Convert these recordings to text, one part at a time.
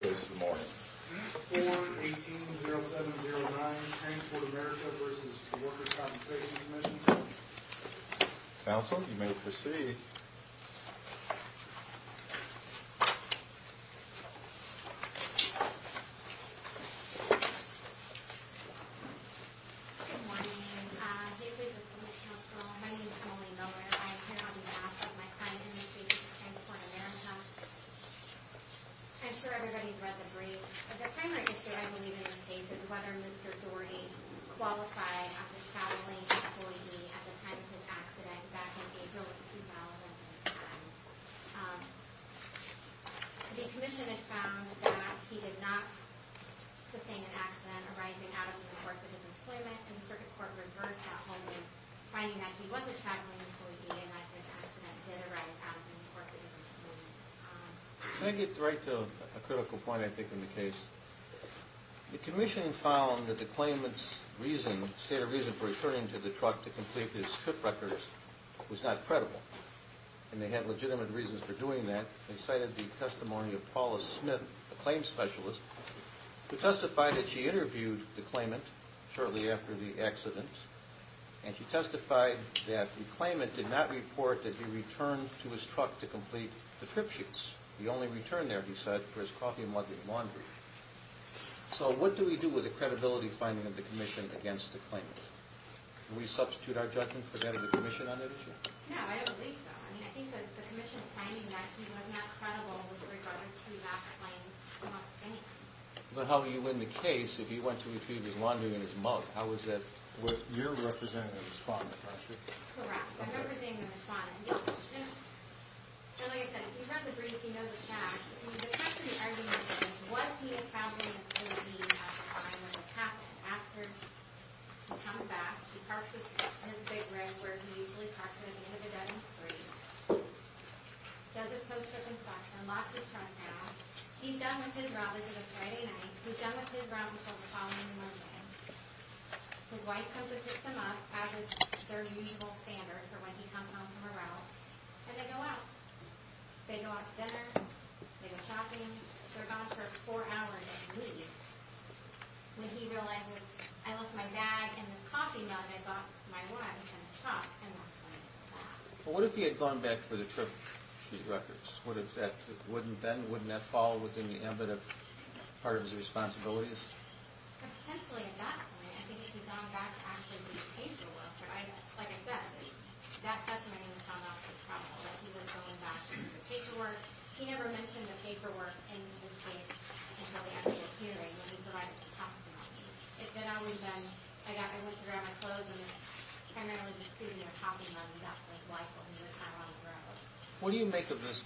4-18-0709, Transport America v. Workers' Compensation Commission Council, you may proceed. Good morning, this is the Police Council. My name is Emily Miller. I am here on behalf of my client in the state of Transport America. I'm sure everybody's read the brief. The primary issue I believe in this case is whether Mr. Dorey qualified as a traveling employee at the time of his accident back in April of 2009. The Commission had found that he did not sustain an accident arising out of the course of his employment, and the Circuit Court reversed that holding, finding that he was a traveling employee and that his accident did arise out of the course of his employment. Can I get right to a critical point I think in the case? The Commission found that the claimant's reason, state of reason for returning to the truck to complete his trip records, was not credible. And they had legitimate reasons for doing that. They cited the testimony of Paula Smith, a claim specialist, who testified that she interviewed the claimant shortly after the accident, and she testified that the claimant did not report that he returned to his truck to complete the trip sheets. He only returned there, he said, for his coffee and laundry. So what do we do with the credibility finding of the Commission against the claimant? Can we substitute our judgment for that of the Commission on that issue? No, I don't believe so. I mean, I think that the Commission's finding that he was not credible with regard to that claim. He did not sustain it. But how would you win the case if he went to retrieve his laundry and his mug? How is that? You're representing the respondent, aren't you? Correct. I'm representing the respondent. So like I said, if you've read the brief, you know the facts. I mean, the fact of the argument is, was he a traveling employee at the time of the accident? After he comes back, he parks his truck in his big rig where he usually parks it at the end of a dead-end street, does his post-trip inspection, locks his truck down. He's done with his route. This is a Friday night. He's done with his route before the following Monday. His wife comes and picks him up, as is their usual standard for when he comes home from a route, and they go out. They go out to dinner. They go shopping. They're gone for four hours and leave. When he realizes, I left my bag and his coffee mug. I brought my wife and his truck, and that's when he left. But what if he had gone back for the trip sheet records? Wouldn't that fall within the ambit of part of his responsibilities? Potentially, exactly. I think he's gone back to actually do paperwork. Like I said, that doesn't make him sound like a problem, that he was going back for the paperwork. He never mentioned the paperwork in this case until the end of the hearing, when he provided the testimony. It's been always been, I went to grab my clothes, and it was primarily just Susan and her coffee mug, and that was life, and he was not on the route. What do you make of this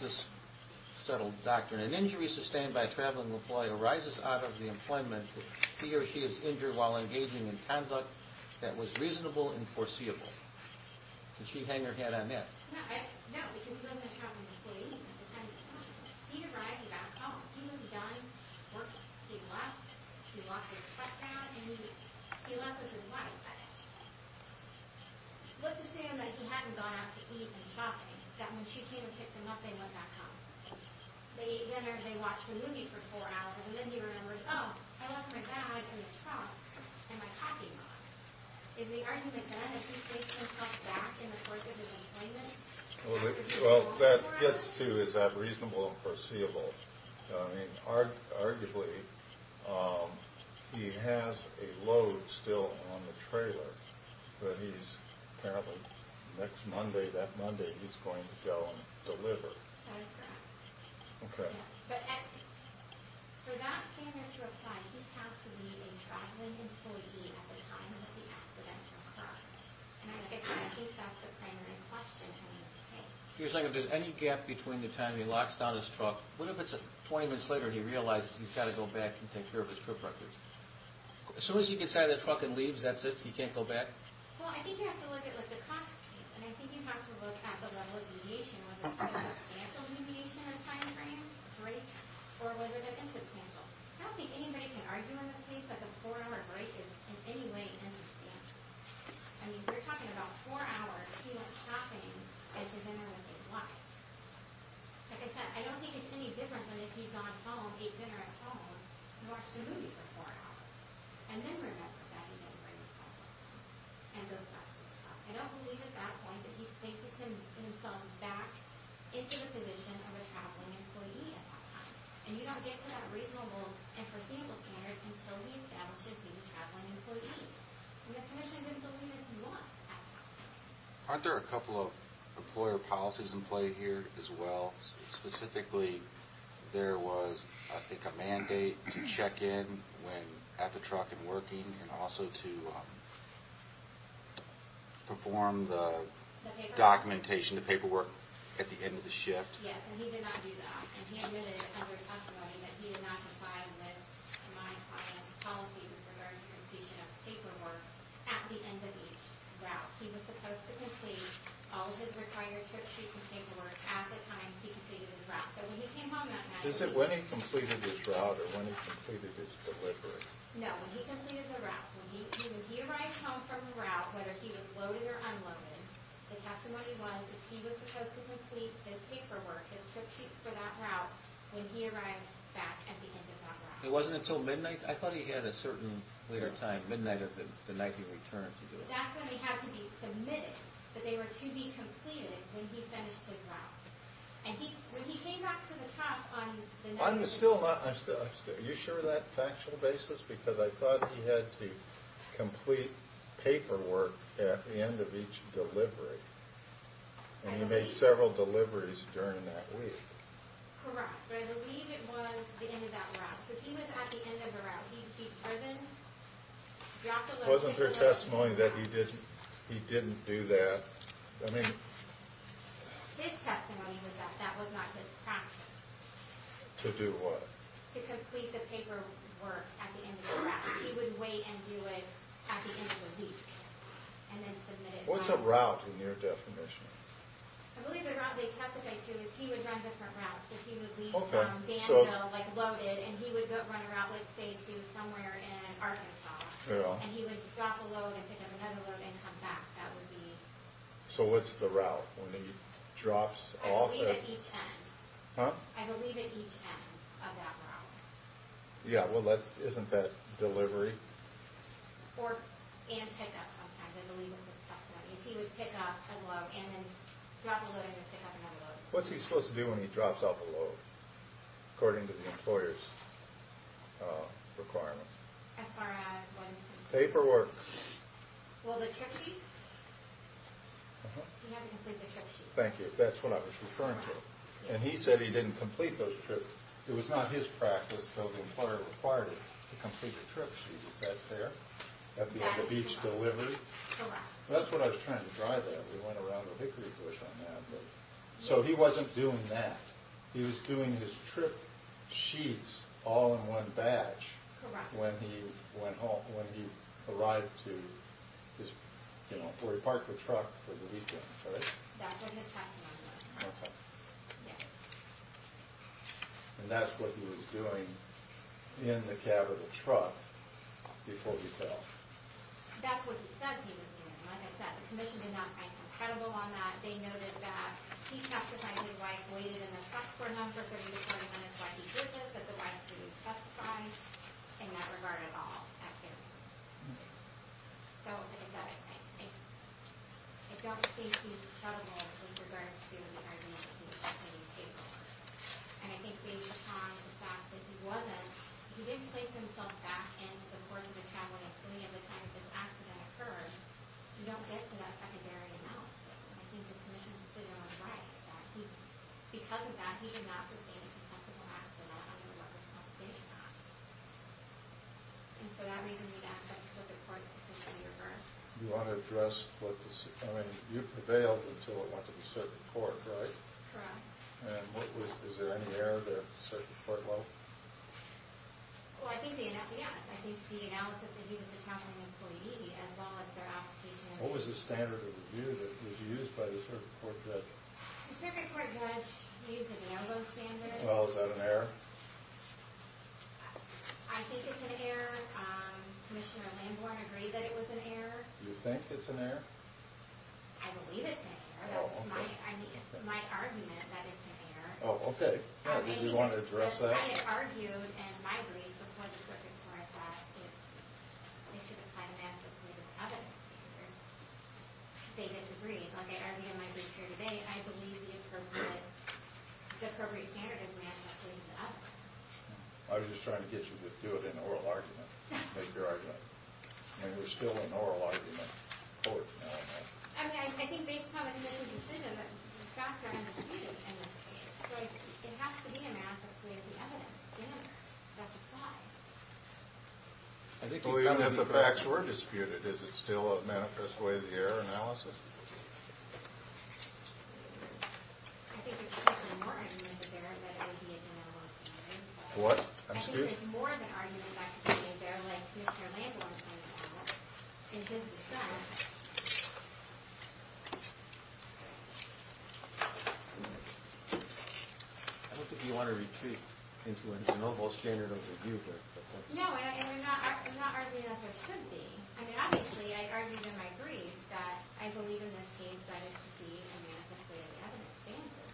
settled doctrine? An injury sustained by a traveling employee arises out of the employment where he or she is injured while engaging in conduct that was reasonable and foreseeable. Did she hang her head on that? No, because he doesn't have an employee at the time. He arrived back home. He was done working. He left. He walked his truck down, and he left with his wife. What's to say that he hadn't gone out to eat and shopping, that when she came and picked him up, they went back home? They ate dinner, they watched a movie for four hours, and then he remembers, oh, I left my bag and the truck and my coffee mug. Is the argument then that he's taking himself back in the course of his employment? Well, that gets to is that reasonable and foreseeable. I mean, arguably, he has a load still on the trailer that he's apparently next Monday, that Monday, he's going to go and deliver. That is correct. Okay. But for that standard to apply, he has to be a traveling employee at the time of the accidental crash. And I think that's the primary question. If there's any gap between the time he locks down his truck, what if it's 20 minutes later and he realizes he's got to go back and take care of his trip record? As soon as he gets out of the truck and leaves, that's it? He can't go back? Well, I think you have to look at the cost, and I think you have to look at the level of mediation. Was it a substantial mediation or time frame break? Or was it an insubstantial? I don't think anybody can argue in this case that the four-hour break is in any way insubstantial. I mean, we're talking about four hours. He went shopping at the dinner with his wife. Like I said, I don't think it's any different than if he'd gone home, ate dinner at home, and watched a movie for four hours. And then remembers that he didn't bring his cell phone and goes back to the truck. I don't believe at that point that he places himself back into the position of a traveling employee at that time. And you don't get to that reasonable and foreseeable standard until he establishes being a traveling employee. And the Commission didn't believe it was at that time. Aren't there a couple of employer policies in play here as well? Specifically, there was, I think, a mandate to check in at the truck and working and also to perform the documentation, the paperwork, at the end of the shift. Yes, and he did not do that. And he admitted under testimony that he did not comply with my client's policy with regard to the completion of the paperwork at the end of each route. He was supposed to complete all of his required tripsheets and paperwork at the time he completed his route. So when he came home, that mattered. When he completed his route or when he completed his delivery? No, when he completed the route. When he arrived home from the route, whether he was loaded or unloaded, the testimony was that he was supposed to complete his paperwork, his tripsheets for that route, when he arrived back at the end of that route. It wasn't until midnight? I thought he had a certain later time, midnight of the night he returned to do it. That's when they had to be submitted. But they were to be completed when he finished his route. And when he came back to the truck on the next day... I'm still not... Are you sure of that factual basis? Because I thought he had to complete paperwork at the end of each delivery. And he made several deliveries during that week. Correct. But I believe it was the end of that route. So if he was at the end of a route, he'd be driven, dropped a load... Wasn't there testimony that he didn't do that? I mean... His testimony was that that was not his practice. To do what? To complete the paperwork at the end of the route. He would wait and do it at the end of the week. And then submit it... What's a route in your definition? I believe the route they testified to is he would run different routes. If he would leave from Danville, like loaded, and he would run a route, let's say, to somewhere in Arkansas. And he would drop a load and pick up another load and come back. That would be... So what's the route when he drops off at... I believe at each end of that route. Yeah, well, isn't that delivery? And pick up sometimes, I believe was his testimony. He would pick up a load and then drop a load and then pick up another load. What's he supposed to do when he drops off a load, according to the employer's requirements? As far as when... Paperwork. Well, the trip sheet? He had to complete the trip sheet. Thank you. That's what I was referring to. And he said he didn't complete those trips. It was not his practice, so the employer required him to complete the trip sheet. Is that fair? At the end of each delivery? Correct. That's what I was trying to drive at. We went around the hickory bush on that. So he wasn't doing that. He was doing his trip sheets all in one batch. Correct. When he arrived to his... You know, where he parked the truck for the weekend, right? That's what his testimony was. Okay. Yes. And that's what he was doing in the cab of the truck before he fell. That's what he said he was doing. Like I said, the commission did not find him credible on that. They noted that he testified that his wife waited in the truck for him for 30 to 40 minutes while he did this. But the wife didn't testify in that regard at all. So, I don't think he's credible in regards to the argument he was making in April. And I think based on the fact that he wasn't, he didn't place himself back into the course of the cab when, if any of the time of this accident occurred, you don't get to that secondary analysis. And I think the commission's decision was right. Because of that, he did not sustain a contestable accident under the Workers' Compensation Act. And for that reason, we'd ask that the Circuit Court's decision be referred. You want to address what the – I mean, you prevailed until it went to the Circuit Court, right? Correct. And what was – is there any error there at the Circuit Court level? Well, I think the NFES. I think the analysis that he was accounting employee, as well as their application – What was the standard of review that was used by the Circuit Court judge? The Circuit Court judge used an ELBO standard. Well, is that an error? I think it's an error. Commissioner Lambourne agreed that it was an error. You think it's an error? I believe it's an error. Oh, okay. My argument that it's an error. Oh, okay. Did you want to address that? I mean, I had argued and migrated before the Circuit Court that it should apply to NFS with other standards. They disagreed. I believe the appropriate standard is manifestly an error. I was just trying to get you to do it in oral argument. Make your argument. I mean, we're still in oral argument. I mean, I think based on the committee's decision that the facts are undisputed in this case. So it has to be a manifest way of the evidence. That's a flaw. Even if the facts were disputed, is it still a manifest way of the error analysis? What? I'm sorry? There's more of an argument that could be made there, like Mr. Lambourne's argument, in his defense. I don't think you want to retreat into an overall standard of review here. No, and I'm not arguing that there should be. I mean, obviously I argued in my brief that I believe in this case that it should be a manifest way of the evidence standard.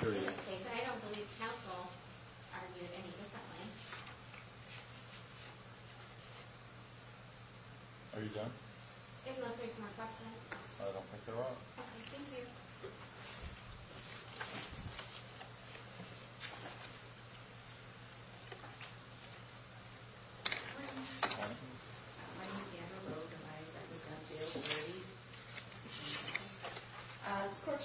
Period. I don't believe counsel argued any differently. Are you done? Unless there's more questions. I don't think there are. Okay, thank you. Thank you. In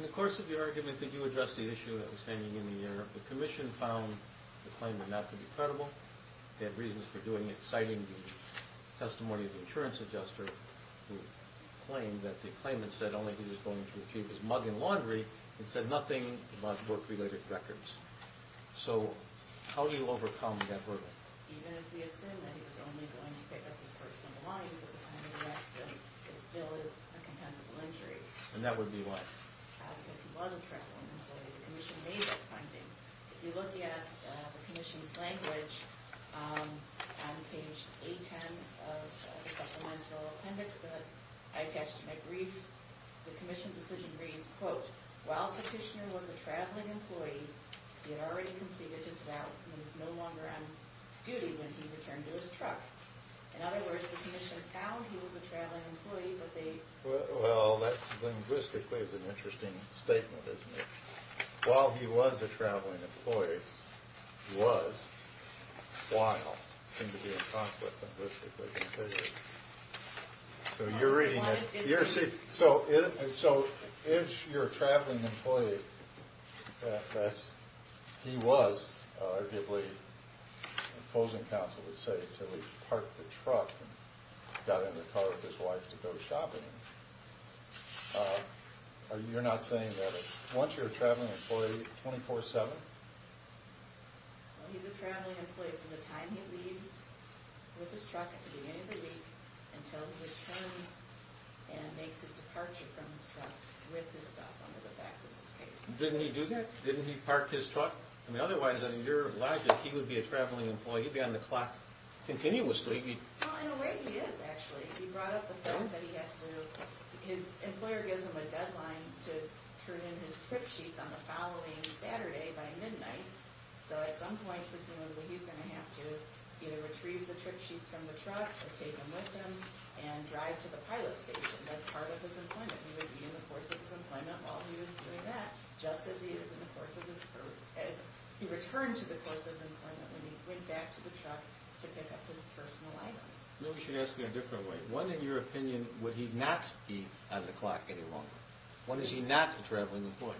the course of your argument that you addressed the issue that was hanging in the air, the commission found the claimant not to be credible. They had reasons for doing it, citing the testimony of the insurance adjuster, who claimed that the claimant said only he was going to achieve his mug in laundry and said nothing about work-related records. So how do you overcome that hurdle? And that would be what? If you look at the commission's language on page 810 of the supplemental appendix that I attached to my brief, the commission's decision reads, quote, while Petitioner was a traveling employee, he had already completed his route and was no longer on duty when he returned to his truck. In other words, the commission found he was a traveling employee, but they... Well, that linguistically is an interesting statement, isn't it? While he was a traveling employee, he was, while, seemed to be in conflict linguistically. So you're reading it. So if you're a traveling employee, that's... He was, arguably, opposing counsel would say, until he parked the truck and got in the car with his wife to go shopping. You're not saying that once you're a traveling employee, 24-7? Well, he's a traveling employee from the time he leaves with his truck at the beginning of the week until he returns and makes his departure from his truck with his stuff under the facts of this case. Didn't he do that? Didn't he park his truck? I mean, otherwise, in your logic, he would be a traveling employee. He'd be on the clock continuously. Well, in a way, he is, actually. He brought up the fact that he has to... His employer gives him a deadline to turn in his trip sheets on the following Saturday by midnight. So at some point, presumably, he's going to have to either retrieve the trip sheets from the truck or take them with him and drive to the pilot station. That's part of his employment. He would be in the course of his employment while he was doing that, just as he is in the course of his... as he returned to the course of employment when he went back to the truck to pick up his personal items. Maybe you should ask it a different way. When, in your opinion, would he not be on the clock any longer? When is he not a traveling employee?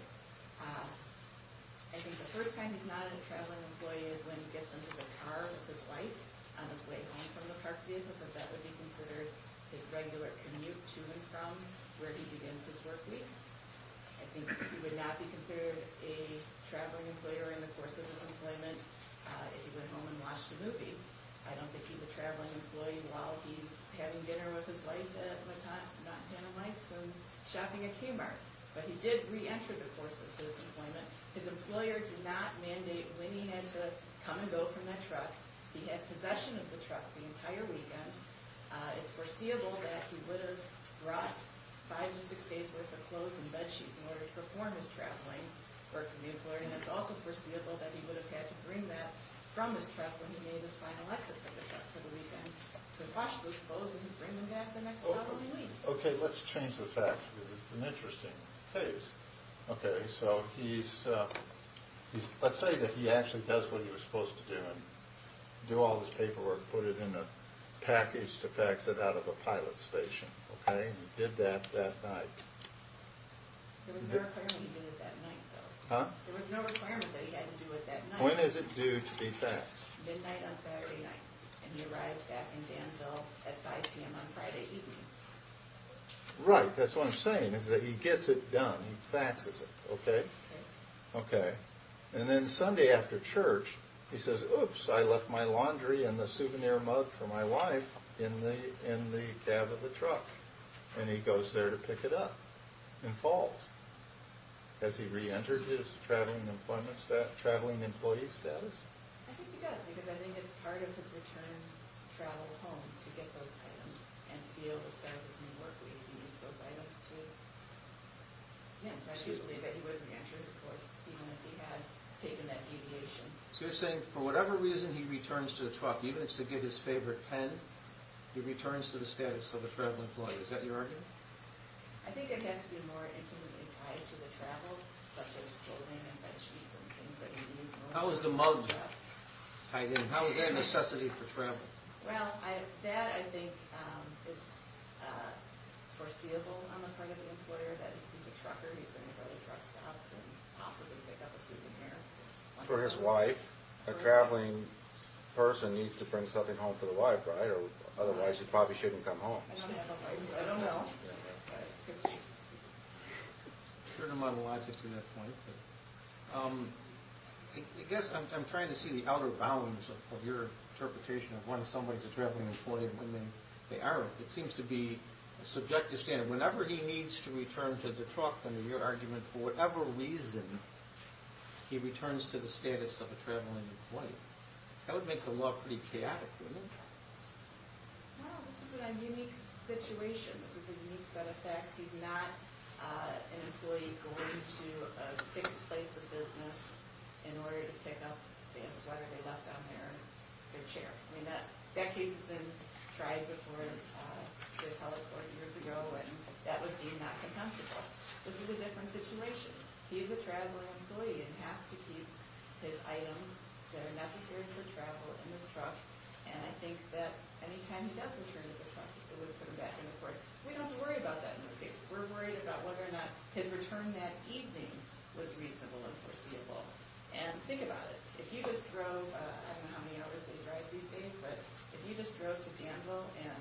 I think the first time he's not a traveling employee is when he gets into the car with his wife on his way home from the park day, because that would be considered his regular commute to and from where he begins his work week. I think he would not be considered a traveling employer in the course of his employment if he went home and watched a movie. I don't think he's a traveling employee while he's having dinner with his wife at Montana Lakes and shopping at Kmart. But he did reenter the course of his employment. His employer did not mandate when he had to come and go from that truck. He had possession of the truck the entire weekend. It's foreseeable that he would have brought five to six days' worth of clothes and bed sheets in order to perform his traveling work for the employer, and it's also foreseeable that he would have had to bring that from his truck when he made his final exit from the truck for the weekend to wash those clothes and bring them back the next following week. Okay, let's change the facts because it's an interesting case. Okay, so let's say that he actually does what he was supposed to do and do all his paperwork, put it in a package to fax it out of a pilot station. Okay, he did that that night. There was no requirement he did it that night, though. Huh? There was no requirement that he had to do it that night. When is it due to be faxed? Midnight on Saturday night, and he arrives back in Danville at 5 p.m. on Friday evening. Right, that's what I'm saying is that he gets it done. He faxes it, okay? Okay. And then Sunday after church, he says, Oops, I left my laundry and the souvenir mug for my wife in the cab of the truck. And he goes there to pick it up and falls. Has he re-entered his traveling employee status? I think he does because I think it's part of his return travel home to get those items and to be able to start his new work week he needs those items, too. Yes, I do believe that he would have re-entered his course even if he had taken that deviation. So you're saying for whatever reason he returns to the truck, even if it's to get his favorite pen, he returns to the status of a traveling employee. Is that your argument? I think it has to be more intimately tied to the travel, such as clothing and bed sheets and things like that. How is the mug tied in? How is that a necessity for travel? Well, that I think is foreseeable on the part of the employer, that he's a trucker, he's going to go to drugstops and possibly pick up a souvenir. For his wife, a traveling person needs to bring something home for the wife, right? Otherwise, he probably shouldn't come home. I don't know. A certain amount of logic to that point. I guess I'm trying to see the outer bounds of your interpretation of when somebody's a traveling employee and when they aren't. It seems to be a subjective standard. Whenever he needs to return to the truck, under your argument, for whatever reason he returns to the status of a traveling employee. That would make the law pretty chaotic, wouldn't it? Well, this is a unique situation. This is a unique set of facts. He's not an employee going to a fixed place of business in order to pick up, say, a sweater they left on their chair. I mean, that case has been tried before, the appellate court years ago, and that was deemed not compensable. This is a different situation. He's a traveling employee and has to keep his items that are necessary for travel in his truck. And I think that any time he does return to the truck, it would put him back in the course. We don't have to worry about that in this case. We're worried about whether or not his return that evening was reasonable and foreseeable. And think about it. If you just drove, I don't know how many hours they drive these days, but if you just drove to Danville and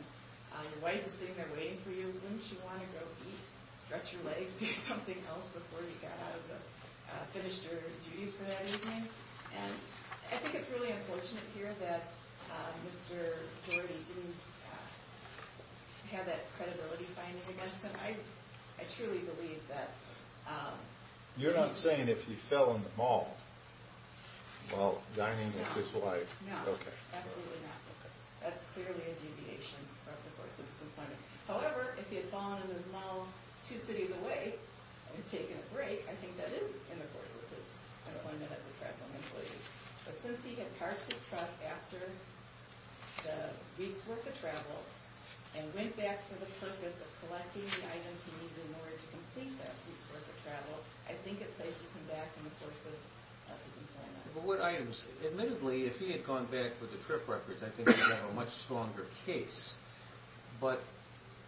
your wife is sitting there waiting for you, wouldn't you want to go eat, stretch your legs, do something else before you got out of the finish your duties for that evening? And I think it's really unfortunate here that Mr. Geordi didn't have that credibility finding against him. I truly believe that... You're not saying if he fell in the mall while dining with his wife. No, absolutely not. That's clearly a deviation from the course of his employment. However, if he had fallen in the mall two cities away and taken a break, I think that is in the course of his employment as a travel employee. But since he had parked his truck after the week's worth of travel and went back for the purpose of collecting the items he needed in order to complete that week's worth of travel, I think it places him back in the course of his employment. But what items? Admittedly, if he had gone back with the trip records, I think he would have a much stronger case. But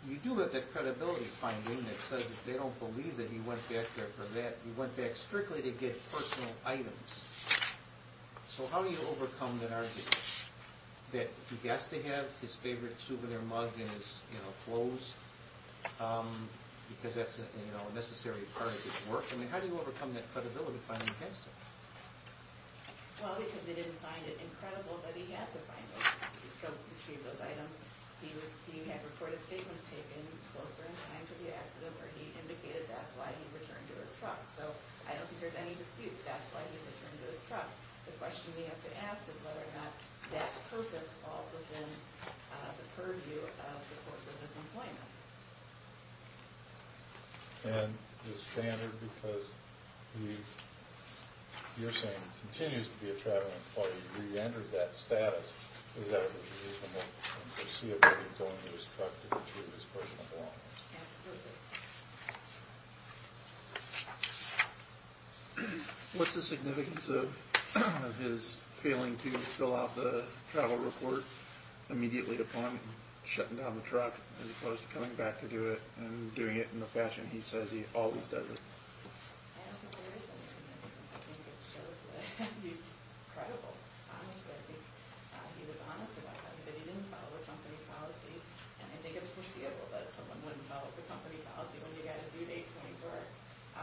you do have that credibility finding that says they don't believe that he went back there for that. He went back strictly to get personal items. So how do you overcome that argument that he has to have his favorite souvenir mug in his clothes because that's a necessary part of his work? I mean, how do you overcome that credibility finding against him? Well, because they didn't find it incredible that he had to find those items. He had reported statements taken closer in time to the accident where he indicated that's why he returned to his truck. So I don't think there's any dispute that's why he returned to his truck. The question we have to ask is whether or not that purpose falls within the purview of the course of his employment. And the standard, because you're saying he continues to be a travel employee, and he re-entered that status, is that reasonable? Is he able to go into his truck to retrieve his personal belongings? Absolutely. What's the significance of his failing to fill out the travel report immediately upon shutting down the truck as opposed to coming back to do it and doing it in the fashion he says he always does it? I don't think there is any significance. I think it shows that he's credible, honestly. He was honest about that, that he didn't follow the company policy. And I think it's foreseeable that someone wouldn't follow the company policy when you've got a due date 24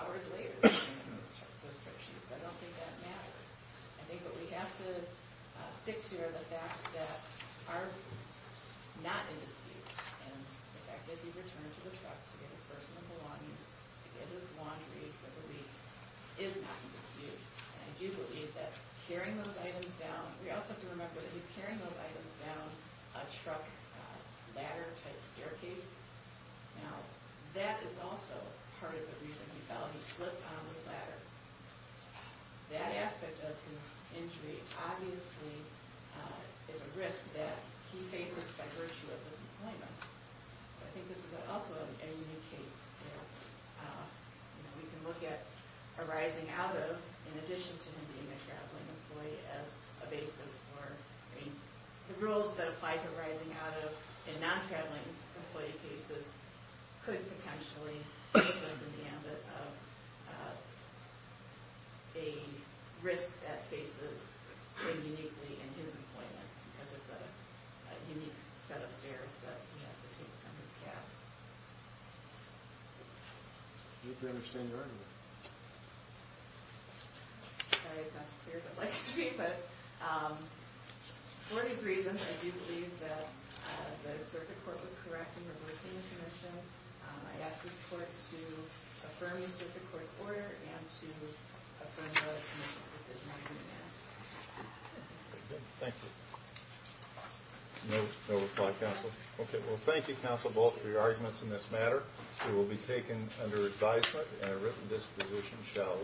hours later. I don't think that matters. I think what we have to stick to are the facts that are not in dispute. And the fact that he returned to the truck to get his personal belongings, to get his laundry for the week, is not in dispute. And I do believe that carrying those items down, we also have to remember that he's carrying those items down a truck ladder type staircase. Now, that is also part of the reason he fell. He slipped on the ladder. That aspect of his injury obviously is a risk that he faces by virtue of his employment. So I think this is also a unique case where we can look at arising out of, in addition to him being a traveling employee, as a basis for, I mean, the rules that apply to arising out of in non-traveling employee cases could potentially put us in the ambit of a risk that faces him uniquely in his employment because it's a unique set of stairs that he has to take from his cab. I think we understand your argument. Sorry, it's not as clear as I'd like it to be. But for these reasons, I do believe that the circuit court was correct in reversing the commission. I ask this court to affirm the circuit court's order and to affirm the committee's decision on doing that. Thank you. No reply, counsel. Okay, well, thank you, counsel, both of your arguments in this matter. It will be taken under advisement and a written disposition shall...